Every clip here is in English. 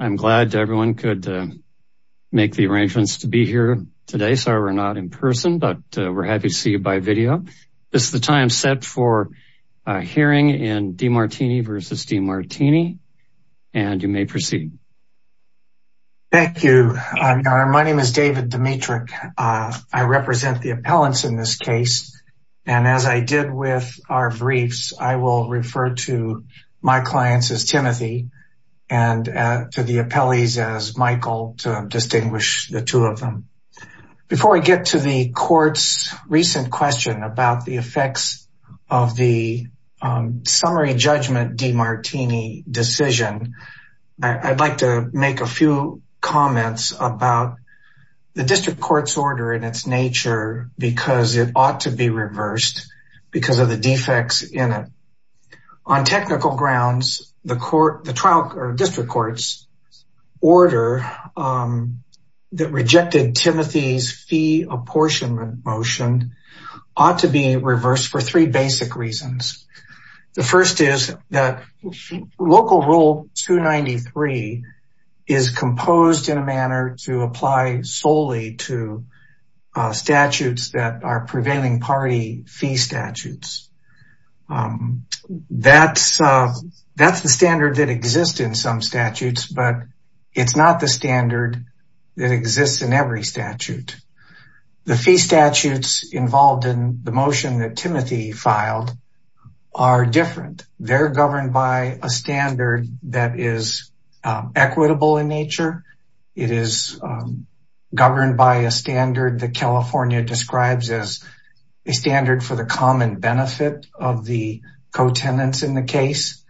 I'm glad everyone could make the arrangements to be here today. Sorry, we're not in person, but we're happy to see you by video. This is the time set for a hearing in DeMartini v. DeMartini, and you may proceed. Thank you. My name is David Dimitrick. I represent the appellants in this case. And as I did with our briefs, I will refer to my clients as Timothy. And to the appellees as Michael to distinguish the two of them. Before I get to the court's recent question about the effects of the summary judgment DeMartini decision, I'd like to make a few comments about the district court's order in its nature, because it ought to be reversed because of the defects in it. On technical grounds, the court, the trial or district court's order that rejected Timothy's fee apportionment motion ought to be reversed for three basic reasons, the first is that local rule 293 is composed in a manner to apply solely to statutes that are prevailing party fee statutes. That's the standard that exists in some statutes, but it's not the standard that exists in every statute. The fee statutes involved in the motion that Timothy filed are different. They're governed by a standard that is equitable in nature. It is governed by a standard that California describes as a of the co-tenants in the case.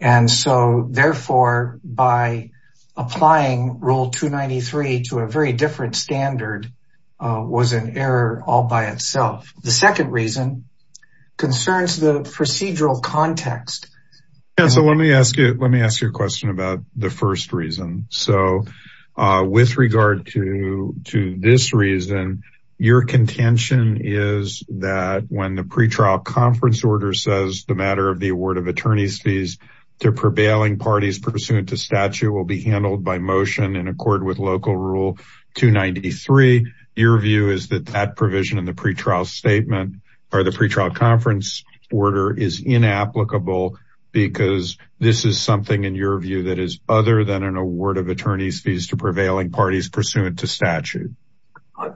And so therefore by applying rule 293 to a very different standard was an error all by itself. The second reason concerns the procedural context. Yeah. So let me ask you, let me ask you a question about the first reason. So with regard to, to this reason, your contention is that when the pre-trial conference order says the matter of the award of attorney's fees to prevailing parties pursuant to statute will be handled by motion in accord with local rule 293. Your view is that that provision in the pre-trial statement or the pre-trial conference order is inapplicable because this is something in your view that is other than an award of attorney's fees to prevailing parties pursuant to statute.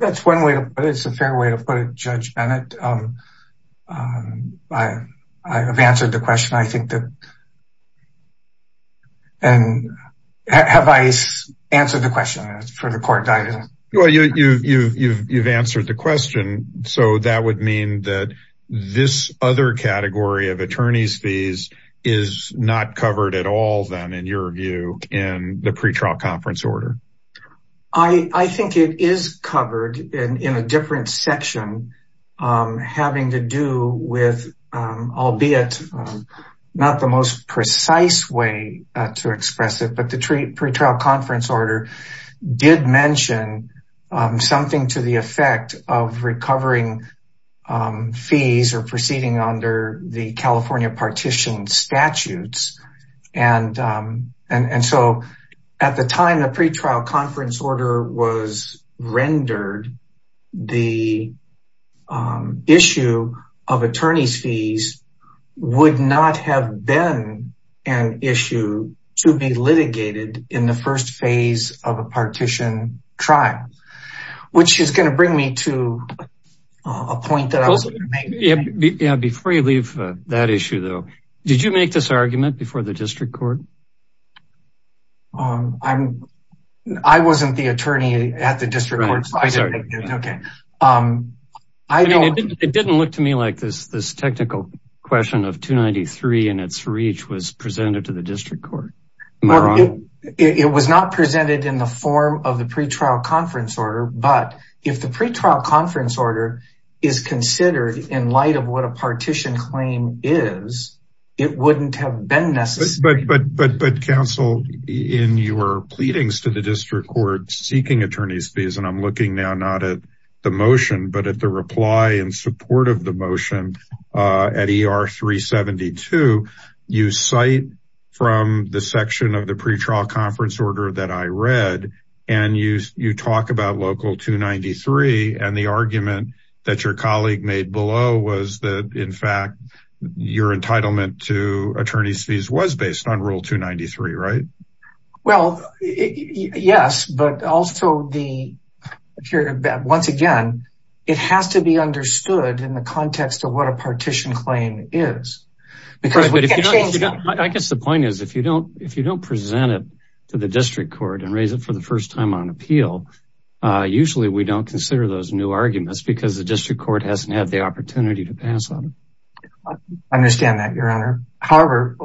That's one way to put it, it's a fair way to put it Judge Bennett. I have answered the question. I think that, and have I answered the question for the court guidance? Well, you've answered the question. So that would mean that this other category of attorney's fees is not covered at all then in your view in the pre-trial conference order. I think it is covered in a different section having to do with, albeit not the most precise way to express it, but the pre-trial conference order did mention something to the effect of recovering fees or proceeding under the California partition statutes. And so at the time the pre-trial conference order was rendered, the issue of attorney's fees would not have been an issue to be litigated in the first phase of a partition trial. Which is going to bring me to a point that I was going to make. Yeah, before you leave that issue though, did you make this argument before the district court? I wasn't the attorney at the district court, so I didn't make it, okay. I mean, it didn't look to me like this, this technical question of 293 and its reach was presented to the district court. It was not presented in the form of the pre-trial conference order, but if the pre-trial conference order is considered in light of what a partition claim is, it wouldn't have been necessary. But counsel, in your pleadings to the district court seeking attorney's fees, and I'm looking now not at the motion, but at the reply in support of the motion at ER 372, you cite from the section of the pre-trial conference order that I read, and you talk about local 293 and the argument that your colleague made below was that in fact, your entitlement to attorney's fees was based on rule 293, right? Well, yes, but also the, once again, it has to be understood in the context of what a partition claim is. Because I guess the point is if you don't, if you don't present it to the district court and raise it for the first time on appeal, usually we don't consider those new arguments because the district court hasn't had the opportunity to pass on it. I understand that your honor. However,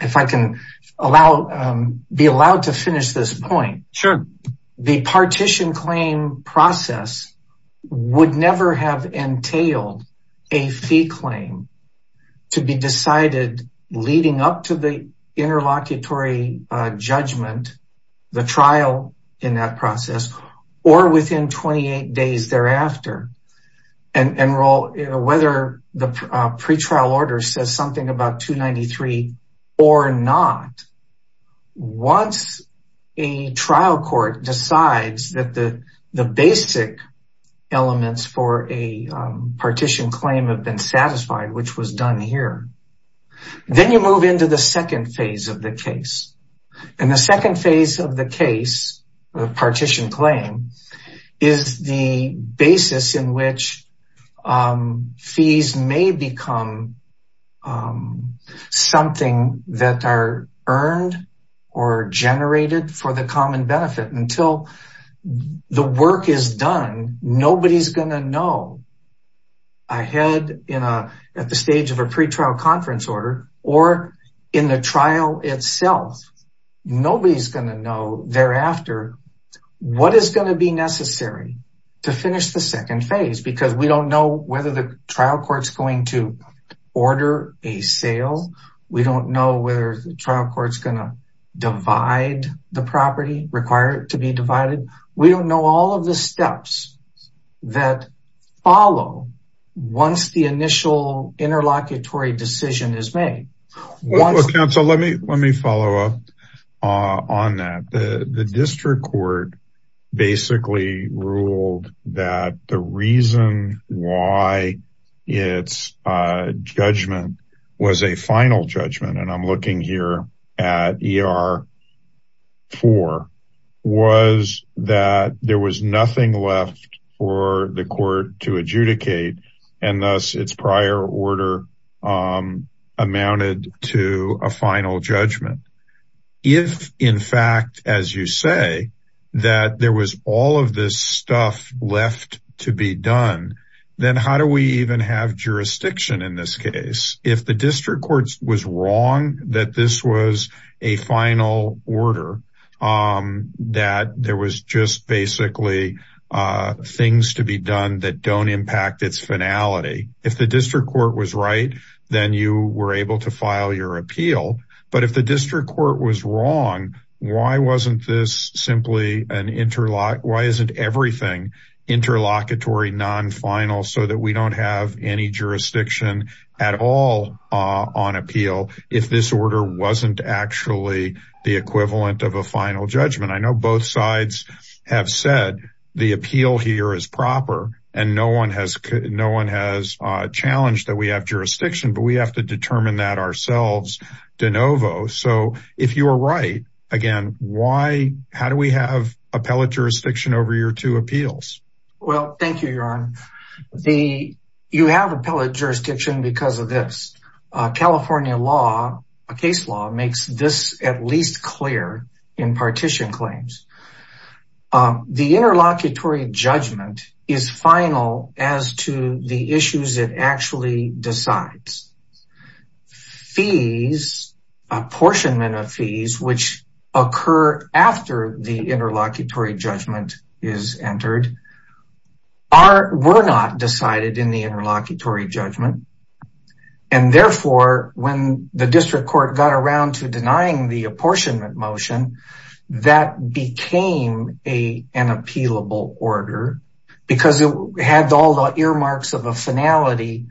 if I can allow, be allowed to finish this point, the partition claim process would never have entailed a fee claim to be decided leading up to the interlocutory judgment, the trial in that process, or within 28 days thereafter, and whether the pretrial order says something about 293 or not. Once a trial court decides that the basic elements for a partition claim have been satisfied, which was done here, then you move into the second phase of the case and the second phase of the case, the partition claim, is the basis in which fees may become something that are earned or generated for the common benefit until the work is done. Nobody's going to know ahead in a, at the stage of a pretrial conference order or in the trial itself. Nobody's going to know thereafter what is going to be necessary to finish the second phase because we don't know whether the trial court's going to order a sale, we don't know whether the trial court's going to divide the property, require it to be divided. We don't know all of the steps that follow once the initial interlocutory decision is made. Well, counsel, let me, let me follow up on that. The district court basically ruled that the reason why its judgment was a final judgment, and I'm looking here at ER4, was that there was nothing left for the court to adjudicate and thus its prior order amounted to a final judgment. If in fact, as you say, that there was all of this stuff left to be done, then how do we even have jurisdiction in this case, if the district court was wrong that this was a final order, that there was just basically things to be done that don't impact its finality. If the district court was right, then you were able to file your appeal. But if the district court was wrong, why wasn't this simply an interlock? Why isn't everything interlocutory non-final so that we don't have any jurisdiction at all on appeal if this order wasn't actually the equivalent of a final judgment? I know both sides have said the appeal here is proper and no one has, no one has challenged that we have jurisdiction, but we have to determine that ourselves de novo, so if you are right, again, why, how do we have appellate jurisdiction over your two appeals? Well, thank you, Yaron. The, you have appellate jurisdiction because of this, California law, a case law makes this at least clear in partition claims, the interlocutory judgment is final as to the issues it actually decides. Fees, apportionment of fees, which occur after the interlocutory judgment is entered, are, were not decided in the interlocutory judgment. And therefore, when the district court got around to denying the apportionment motion, that became an appealable order because it had all the earmarks of a final judgment,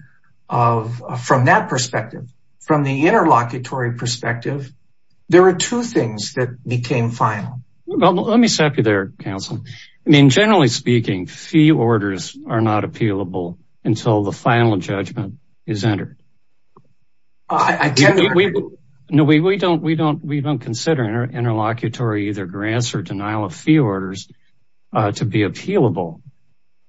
but from that perspective, from the interlocutory perspective, there are two things that became final. Well, let me stop you there, counsel. I mean, generally speaking, fee orders are not appealable until the final judgment is entered. I, I can't hear you. No, we, we don't, we don't, we don't consider interlocutory either grants or denial of fee orders to be appealable.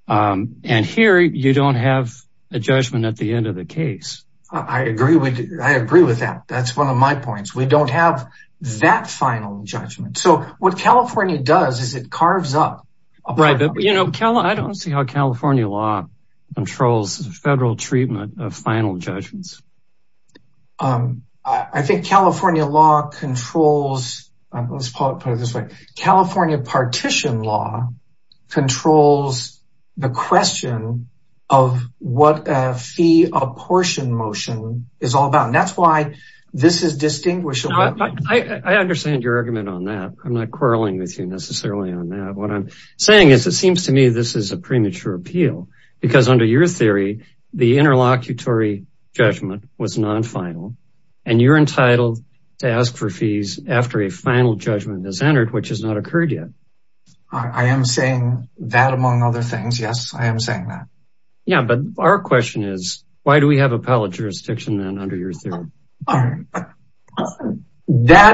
And here you don't have a judgment at the end of the case. I agree with, I agree with that. That's one of my points. We don't have that final judgment. So what California does is it carves up. Right. But you know, I don't see how California law controls federal treatment of final judgments. I think California law controls, let's put it this way. California partition law controls the question of what a fee apportioned motion is all about. And that's why this is distinguished. I understand your argument on that. I'm not quarreling with you necessarily on that. What I'm saying is it seems to me, this is a premature appeal because under your theory, the interlocutory judgment was non-final and you're I am saying that among other things. Yes, I am saying that. Yeah. But our question is why do we have appellate jurisdiction then under your theory? That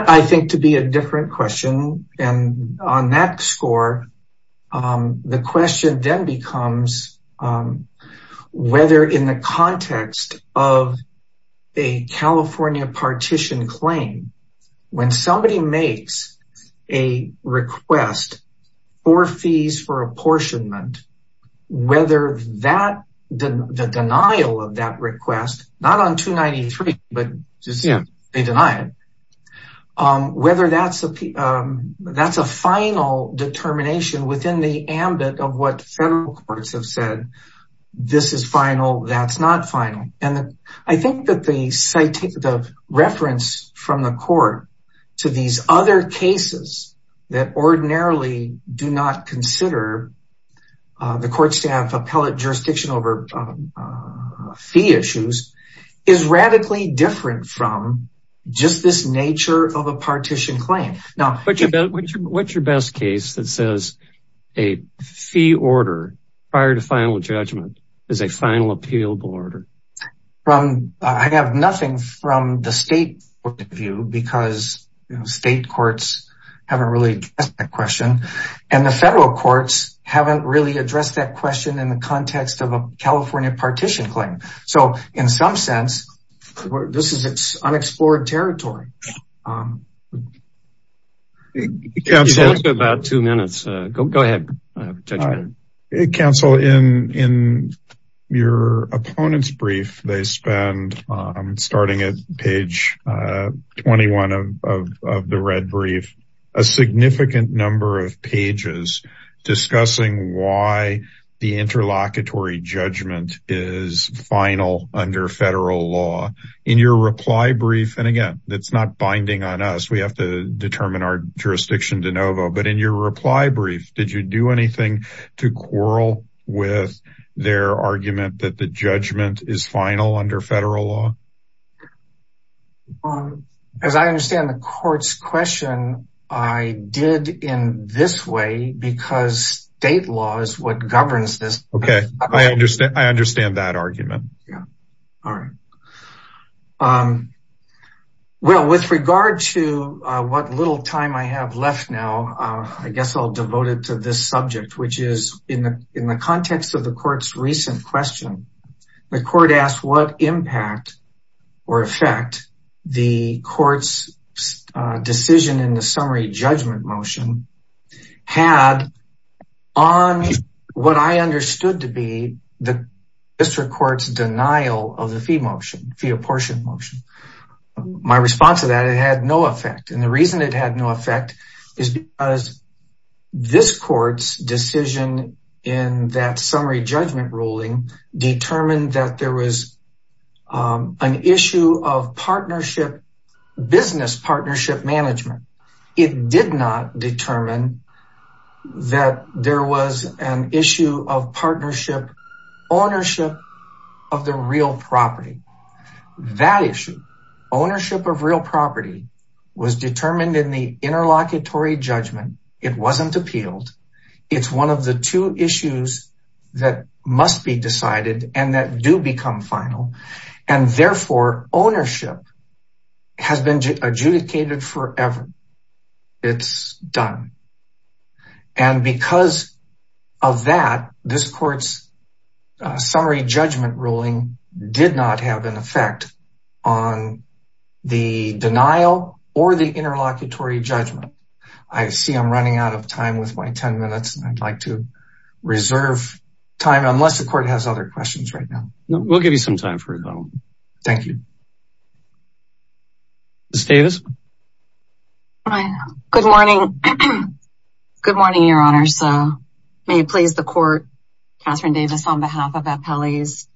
I think to be a different question. And on that score the question then becomes whether in the context of a request for fees for apportionment, whether the denial of that request, not on 293, but they deny it, whether that's a final determination within the ambit of what federal courts have said, this is final, that's not final. And I think that the reference from the court to these other cases that ordinarily do not consider the courts to have appellate jurisdiction over fee issues is radically different from just this nature of a partition claim. Now, what's your best case that says a fee order prior to final judgment is a final appealable order? I have nothing from the state point of view because state courts haven't really asked that question and the federal courts haven't really addressed that question in the context of a California partition claim. So in some sense, this is unexplored territory. Council, in your opponent's brief, they spend, starting at page 21 of the red brief, a significant number of pages discussing why the interlocutory judgment is final under federal law. In your reply brief, and again, that's not binding on us. We have to determine our jurisdiction de novo, but in your reply brief, did you do anything to quarrel with their argument that the judgment is final under federal law? As I understand the court's question, I did in this way because state law is what governs this. OK, I understand. I understand that argument. Yeah. All right. Well, with regard to what little time I have left now, I guess I'll devote it to this subject, which is in the context of the court's recent question, the court asked what impact or effect the court's decision in the summary judgment motion had on what I understood to be the district court's denial of the fee motion, fee apportioned motion. My response to that, it had no effect. And the reason it had no effect is because this court's decision in that summary judgment ruling determined that there was an issue of partnership, business partnership management. It did not determine that there was an issue of partnership ownership of the real property was determined in the interlocutory judgment. It wasn't appealed. It's one of the two issues that must be decided and that do become final. And therefore, ownership has been adjudicated forever. It's done. And because of that, this court's summary judgment ruling did not have an effect on the denial or the interlocutory judgment. I see I'm running out of time with my 10 minutes, and I'd like to reserve time unless the court has other questions right now. We'll give you some time for it. Thank you. Ms. Davis. Good morning. Good morning, Your Honor. So may it please the court, Katherine Davis on behalf of Apelles.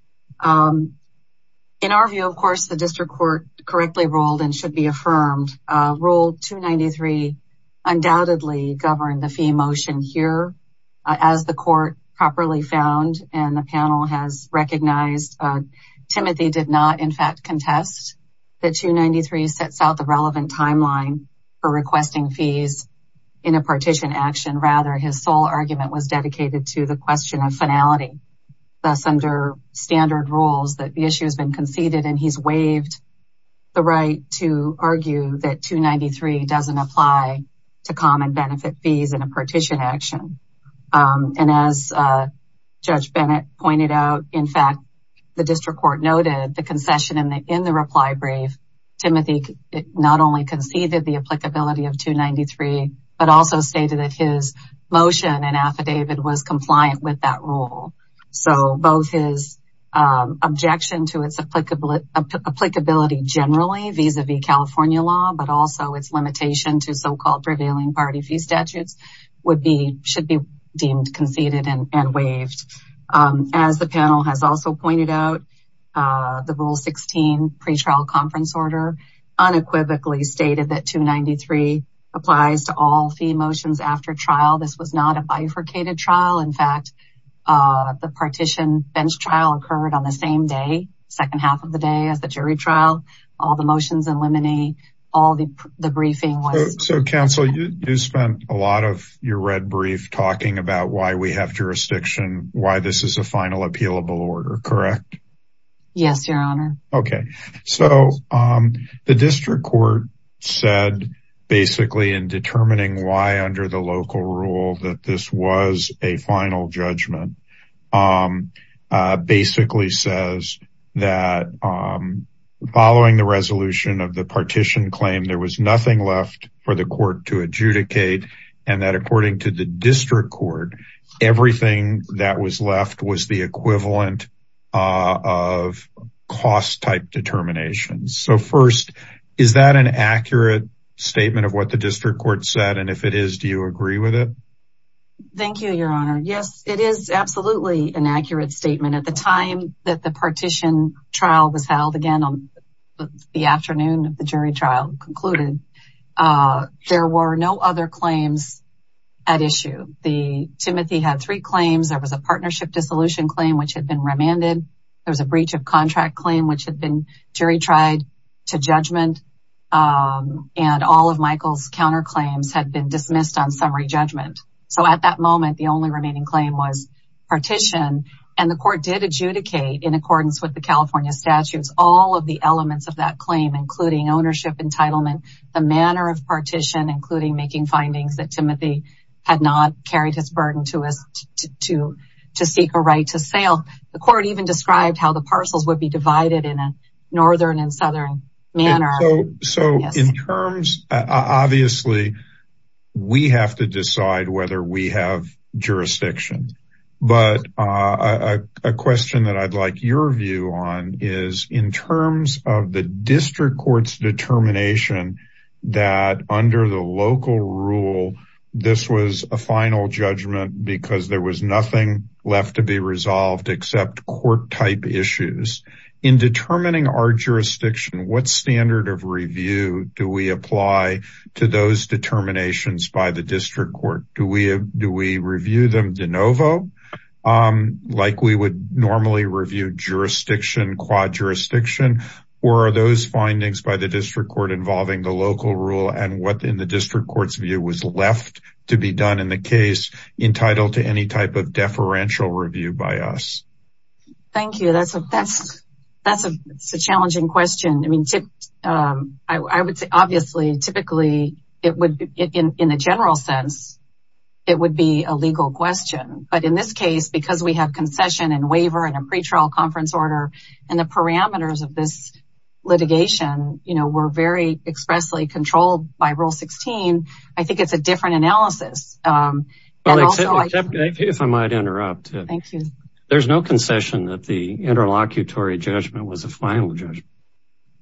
In our view, of course, the district court correctly ruled and should be affirmed. Rule 293 undoubtedly governed the fee motion here as the court properly found. And the panel has recognized Timothy did not, in fact, contest that 293 sets out the relevant timeline for requesting fees in a partition action. Rather, his sole argument was dedicated to the question of finality. Thus, under standard rules that the issue has been conceded, and he's waived the right to argue that 293 doesn't apply to common benefit fees in a partition action. And as Judge Bennett pointed out, in fact, the district court noted the concession in the reply brief, Timothy not only conceded the applicability of 293, but also stated that his motion and affidavit was compliant with that rule. So both his objection to its applicability generally vis-a-vis California law, but also its limitation to so-called prevailing party fee statutes should be deemed conceded and waived. As the panel has also pointed out, the Rule 16 pretrial conference order unequivocally stated that 293 applies to all fee motions after trial. This was not a bifurcated trial. In fact, the partition bench trial occurred on the same day, second half of the day as the jury trial, all the motions in limine, all the briefing. So counsel, you spent a lot of your red brief talking about why we have jurisdiction, why this is a final appealable order, correct? Yes, your honor. Okay. So the district court said basically in determining why under the local rule that this was a final judgment basically says that following the resolution of the partition claim, there was nothing left for the court to adjudicate and that according to the district court, everything that was left was the equivalent of cost type determinations. So first, is that an accurate statement of what the district court said? And if it is, do you agree with it? Thank you, your honor. Yes, it is absolutely an accurate statement. At the time that the partition trial was held again on the afternoon of the jury trial concluded, there were no other claims at issue. The Timothy had three claims. There was a partnership dissolution claim, which had been remanded. There was a breach of contract claim, which had been jury tried to judgment. And all of Michael's counterclaims had been dismissed on summary judgment. So at that moment, the only remaining claim was partition. And the court did adjudicate in accordance with the California statutes, all of the elements of that claim, including ownership entitlement, the manner of partition, including making findings that Timothy had not carried his burden to us to seek a right to sale. The court even described how the parcels would be divided in a Northern and Southern manner. So in terms, obviously we have to decide whether we have jurisdiction. But a question that I'd like your view on is in terms of the district court's determination that under the local rule, this was a final judgment because there was nothing left to be resolved except court type issues in determining our review. Do we apply to those determinations by the district court? Do we do we review them de novo like we would normally review jurisdiction, quad jurisdiction, or are those findings by the district court involving the local rule and what in the district court's view was left to be done in the case entitled to any type of deferential review by us? Thank you. That's a that's that's a challenging question. I mean, I would say obviously, typically it would be in a general sense, it would be a legal question. But in this case, because we have concession and waiver and a pretrial conference order and the parameters of this litigation, you know, we're very expressly controlled by Rule 16. I think it's a different analysis. Well, except if I might interrupt. Thank you. There's no concession that the interlocutory judgment was a final judgment.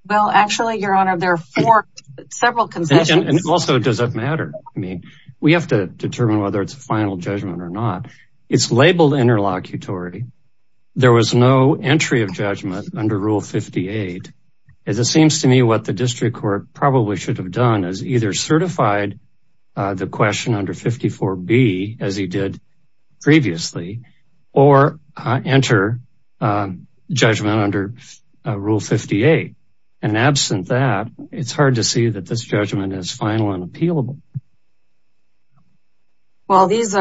Well, actually, Your Honor, there are four, several concessions. And also, does it matter? I mean, we have to determine whether it's a final judgment or not. It's labeled interlocutory. There was no entry of judgment under Rule 58. As it seems to me what the district court probably should have done is either certified the question under 54B, as he did previously, or enter judgment under Rule 58. And absent that, it's hard to see that this judgment is final and appealable. Well, these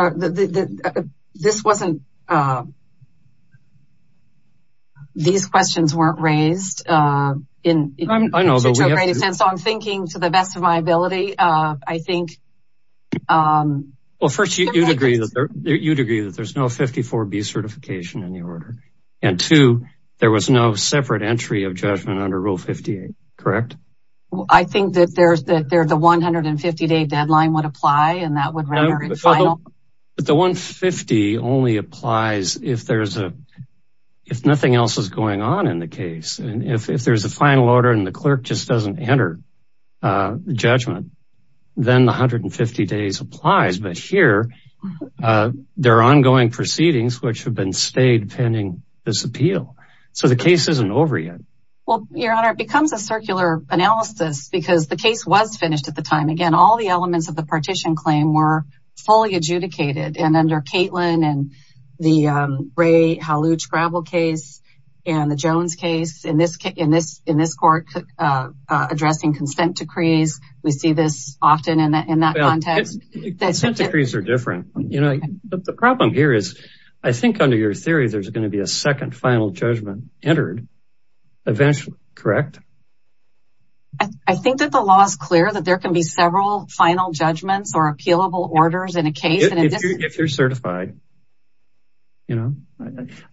questions weren't raised in such a great extent, so I'm thinking to the best of my ability, I think. Well, first, you'd agree that there's no 54B certification in the order. And two, there was no separate entry of judgment under Rule 58. Correct. I think that the 150 day deadline would apply, and that would render it final. But the 150 only applies if nothing else is going on in the case. And if there's a final order and the clerk just doesn't enter judgment, then the 150 days applies. But here, there are ongoing proceedings which have been stayed pending this appeal. So the case isn't over yet. Well, Your Honor, it becomes a circular analysis because the case was finished at the time. Again, all the elements of the partition claim were fully adjudicated. And under Kaitlin and the Ray Halluj-Gravel case and the Jones case in this court addressing consent decrees, we see this often in that context. Consent decrees are different. The problem here is, I think under your theory, there's going to be a second final judgment entered eventually. Correct. I think that the law is clear that there can be several final judgments or appealable orders in a case. If you're certified, you know,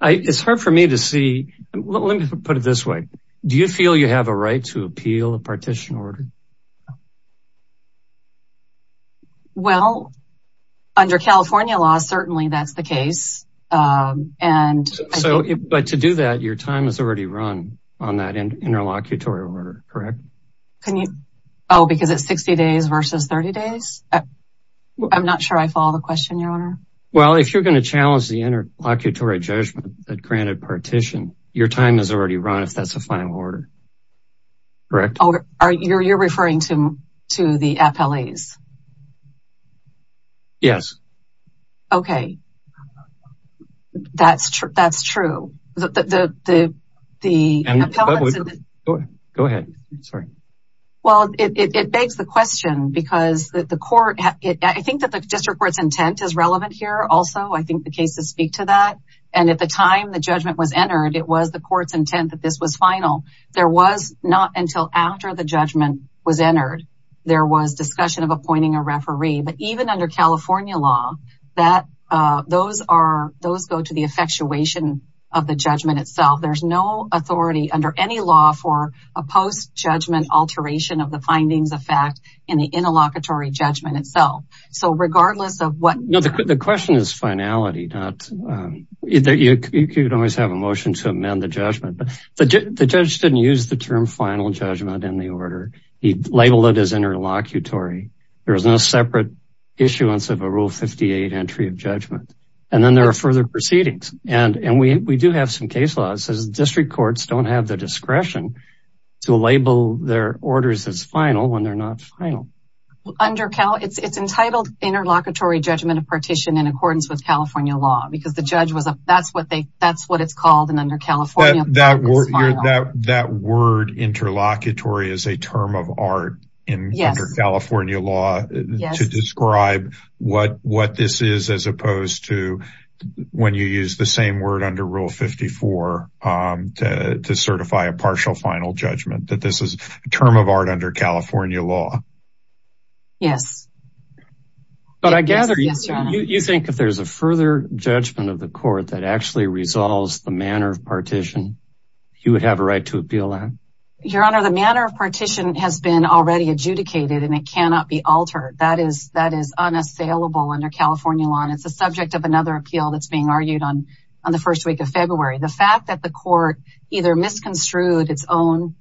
it's hard for me to see. Let me put it this way. Do you feel you have a right to appeal a partition order? Well, under California law, certainly that's the case. And so but to do that, your time is already run on that interlocutory order. Correct. Can you? Oh, because it's 60 days versus 30 days. I'm not sure I follow the question, Your Honor. Well, if you're going to challenge the interlocutory judgment that granted partition, your time is already run if that's a final order. Correct. Oh, you're you're referring to the 60 days? You're referring to to the appellees? Yes. OK, that's true. That's true. The the the the. Go ahead. Sorry. Well, it begs the question because the court I think that the district court's intent is relevant here also. I think the cases speak to that. And at the time the judgment was entered, it was the court's intent that this was final. There was not until after the judgment. Was entered. There was discussion of appointing a referee. But even under California law that those are those go to the effectuation of the judgment itself. There's no authority under any law for a post judgment alteration of the findings of fact in the interlocutory judgment itself. So regardless of what the question is, finality that you could always have a motion to amend the judgment. But the judge didn't use the term final judgment in the order he labeled it as interlocutory. There is no separate issuance of a rule 58 entry of judgment. And then there are further proceedings. And we do have some case laws as district courts don't have the discretion to label their orders as final when they're not final. Under Cal, it's entitled interlocutory judgment of partition in accordance with California law because the judge was that's what they that's what it's called. That word that that word interlocutory is a term of art in California law to describe what what this is, as opposed to when you use the same word under Rule 54 to certify a partial final judgment that this is a term of art under California law. Yes. But I gather you think if there's a further judgment of the court that actually resolves the manner of partition, you would have a right to appeal that? Your Honor, the manner of partition has been already adjudicated and it cannot be altered. That is that is unassailable under California law. And it's a subject of another appeal that's being argued on on the first week of February. The fact that the court either misconstrued its own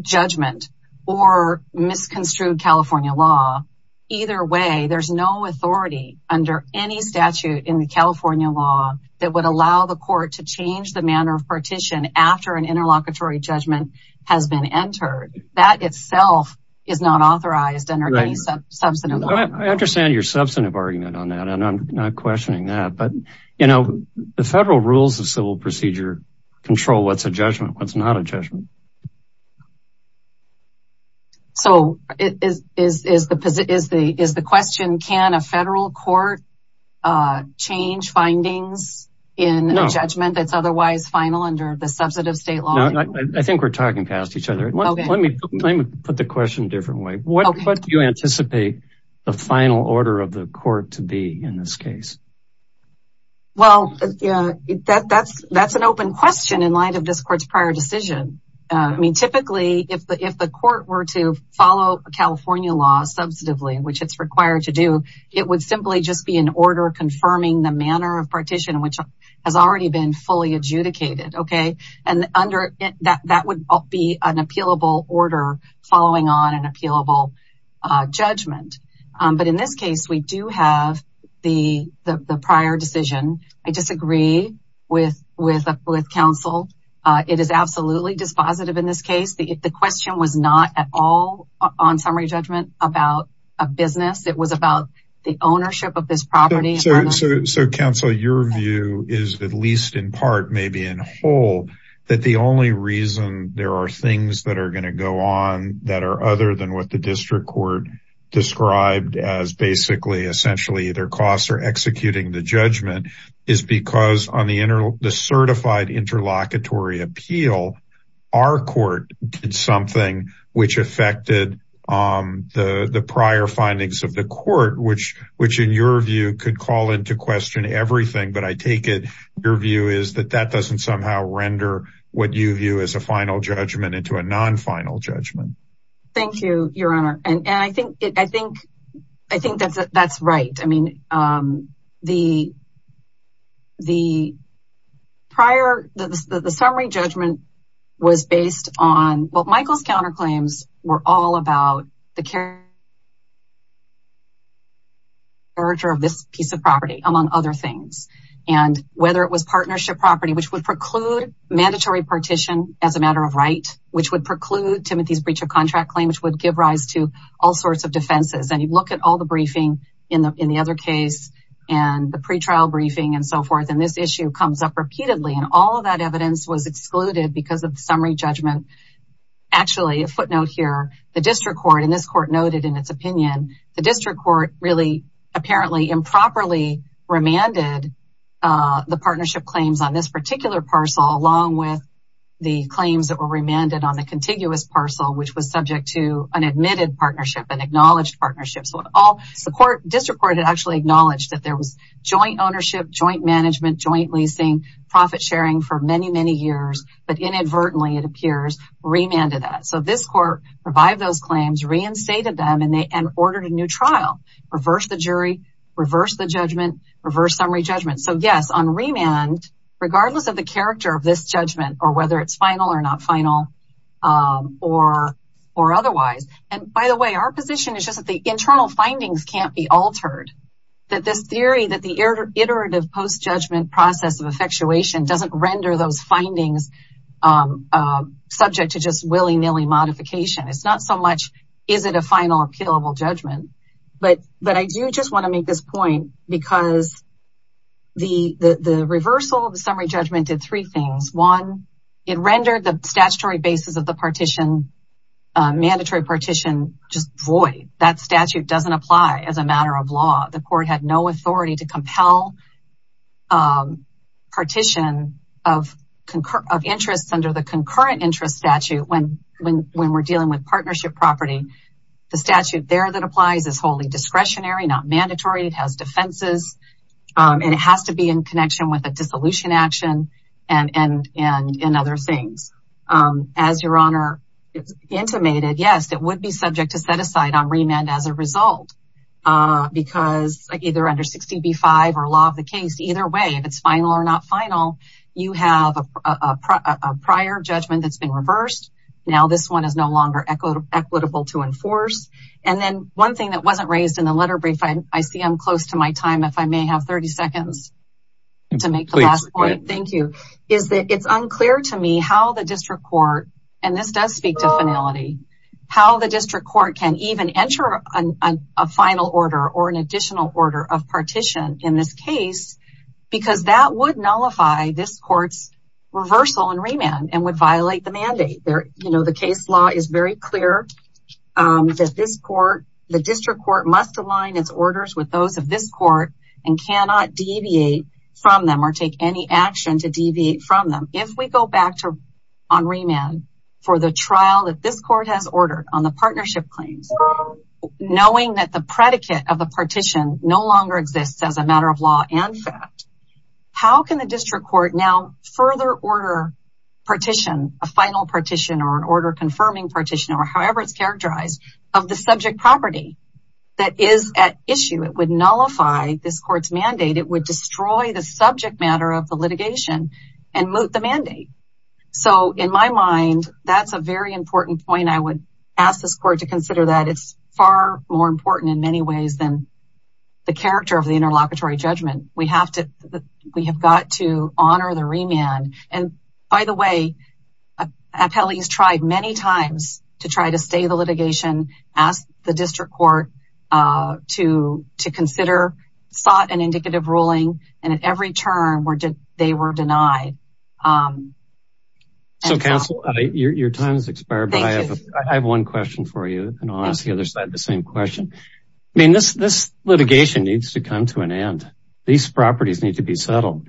judgment or misconstrued California law. Either way, there's no authority under any statute in the California law that would allow the court to change the manner of partition after an interlocutory judgment has been entered. That itself is not authorized under any substantive. I understand your substantive argument on that. And I'm not questioning that. But, you know, the federal rules of civil procedure control what's a judgment, what's not a judgment. So is is is the is the is the question, can a federal court change findings in a judgment that's otherwise final under the substantive state law? I think we're talking past each other. Let me let me put the question a different way. What do you anticipate the final order of the court to be in this case? Well, yeah, that that's that's an open question in light of this court's prior decision. I mean, typically, if the if the court were to follow California law substantively, which it's required to do, it would simply just be an order confirming the manner of partition, which has already been fully adjudicated. OK. And under that, that would be an appealable order following on an appealable judgment. But in this case, we do have the the prior decision. I disagree with with with counsel. It is absolutely dispositive in this case. The question was not at all on summary judgment about a business. It was about the ownership of this property. So, counsel, your view is, at least in part, maybe in whole, that the only reason there are things that are going to go on that are other than what the district court described as basically essentially either costs or executing the judgment is because on the the certified interlocutory appeal, our court did something which affected the prior findings of the court, which which, in your view, could call into question everything. But I take it your view is that that doesn't somehow render what you view as a final judgment into a non-final judgment. Thank you, Your Honor. And I think I think I think that's right. I mean, the the prior the summary judgment was based on what Michael's counterclaims were all about the character of this piece of property, among other things. And whether it was partnership property, which would preclude mandatory partition as a matter of right, which would preclude Timothy's breach of contract claim, which would give rise to all sorts of defenses. And you look at all the briefing in the in the other case and the pretrial briefing and so forth. And this issue comes up repeatedly. And all of that evidence was excluded because of the summary judgment. Actually, a footnote here, the district court in this court noted in its opinion, the district court really apparently improperly remanded the partnership claims on this particular parcel, along with the claims that were remanded on the contiguous parcel, which was subject to an admitted partnership and acknowledged partnership. So it all support district court had actually acknowledged that there was joint ownership, joint management, joint leasing, profit sharing for many, many years. But inadvertently, it appears remanded that. So this court revived those claims, reinstated them, and they ordered a new trial, reverse the jury, reverse the judgment, reverse summary judgment. So, yes, on remand, regardless of the character of this judgment or whether it's final or not final or or otherwise. And by the way, our position is just that the internal findings can't be altered, that this theory that the iterative post judgment process of effectuation doesn't render those findings subject to just willy nilly modification. It's not so much. Is it a final appealable judgment? But but I do just want to make this point because. The reversal of the summary judgment did three things. One, it rendered the statutory basis of the partition, mandatory partition just void. That statute doesn't apply as a matter of law. The court had no authority to compel. Partition of of interests under the concurrent interest statute when when when we're dealing with partnership property, the statute there that applies is wholly discretionary, not mandatory. It has defenses and it has to be in connection with a dissolution in action and and and in other things. As your honor intimated, yes, it would be subject to set aside on remand as a result because either under 65 or law of the case, either way, if it's final or not final, you have a prior judgment that's been reversed. Now this one is no longer equitable to enforce. And then one thing that wasn't raised in the letter brief, I see I'm close to my time if I may have 30 seconds to make the last point. Thank you. Is that it's unclear to me how the district court and this does speak to finality, how the district court can even enter a final order or an additional order of partition in this case because that would nullify this court's reversal and remand and would violate the mandate there. You know, the case law is very clear that this court, the district court must align its orders with those of this court and cannot deviate from them or take any action to deviate from them. If we go back to on remand for the trial that this court has ordered on the partnership claims, knowing that the predicate of the partition no longer exists as a matter of law and fact, how can the district court now further order partition a final partition or an order confirming partition or however it's issue? It would nullify this court's mandate. It would destroy the subject matter of the litigation and moot the mandate. So in my mind, that's a very important point. I would ask this court to consider that it's far more important in many ways than the character of the interlocutory judgment. We have to we have got to honor the remand. And by the way, Appelli has tried many times to try to stay the litigation as the to consider sought an indicative ruling. And at every turn they were denied. So, counsel, your time has expired, but I have one question for you and I'll ask the other side the same question. I mean, this litigation needs to come to an end. These properties need to be settled.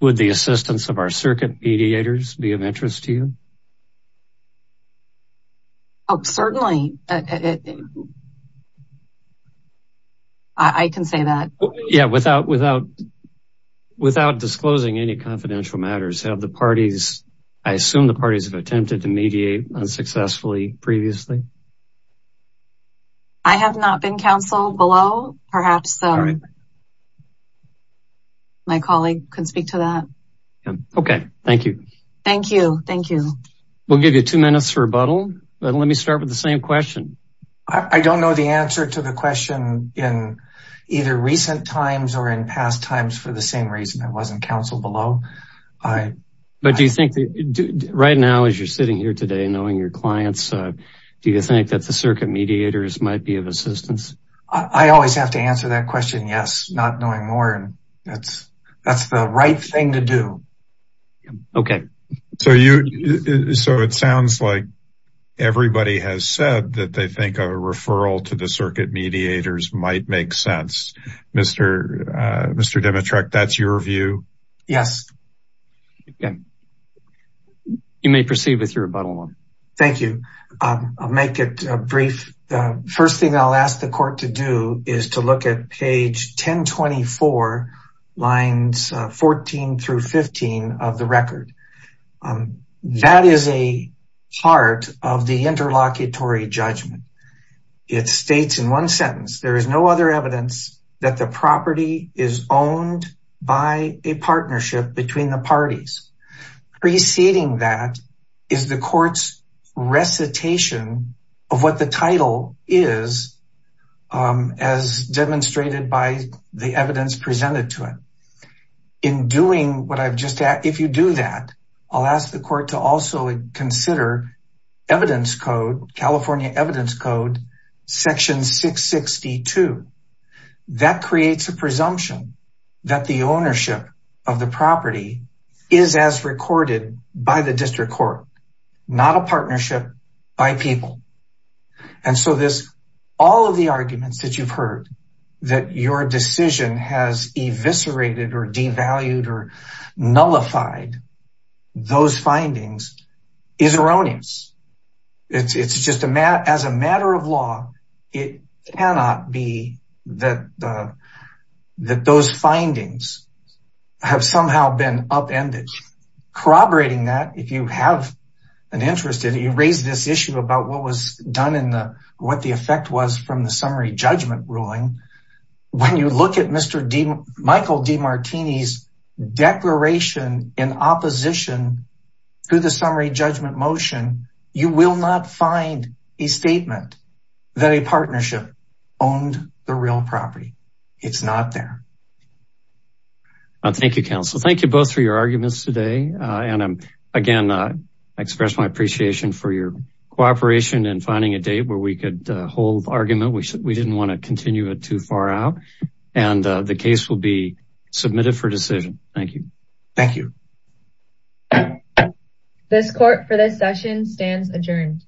Would the assistance of our circuit mediators be of interest to you? Oh, certainly. I can say that, yeah, without without without disclosing any confidential matters of the parties. I assume the parties have attempted to mediate unsuccessfully previously. I have not been counsel below, perhaps. My colleague can speak to that. OK, thank you. Thank you. Thank you. We'll give you two minutes for rebuttal, but let me start with the same question. I don't know the answer to the question in either recent times or in past times for the same reason. It wasn't counsel below. But do you think that right now, as you're sitting here today, knowing your clients, do you think that the circuit mediators might be of assistance? I always have to answer that question. Yes. Not knowing more. That's that's the right thing to do. OK, so you so it sounds like everybody has said that they think a referral to the circuit mediators might make sense. Mr. Mr. Dimitrek, that's your view? Yes. You may proceed with your rebuttal. Thank you. I'll make it brief. First thing I'll ask the court to do is to look at page 1024, lines 14 through 15 of the record. That is a part of the interlocutory judgment. It states in one sentence, there is no other evidence that the property is owned by a partnership between the parties. Preceding that is the court's recitation of what the title is, as demonstrated by the evidence presented to it. In doing what I've just said, if you do that, I'll ask the court to also consider evidence code, California evidence code, section 662. That creates a presumption that the ownership of the property is as recorded by the district court, not a partnership by people. And so this all of the arguments that you've heard that your decision has eviscerated or devalued or nullified those findings is erroneous. It's just as a matter of law, it cannot be that those findings have somehow been upended. Corroborating that, if you have an interest in it, you raised this issue about what was done in the, what the effect was from the summary judgment ruling. When you look at Michael Demartini's declaration in opposition to the summary judgment motion, you will not find a statement that a partnership owned the real property. It's not there. Thank you, counsel. Thank you both for your arguments today. And again, I express my appreciation for your cooperation and finding a date where we could hold argument. We didn't want to continue it too far out and the case will be submitted for decision. Thank you. Thank you. This court for this session stands adjourned.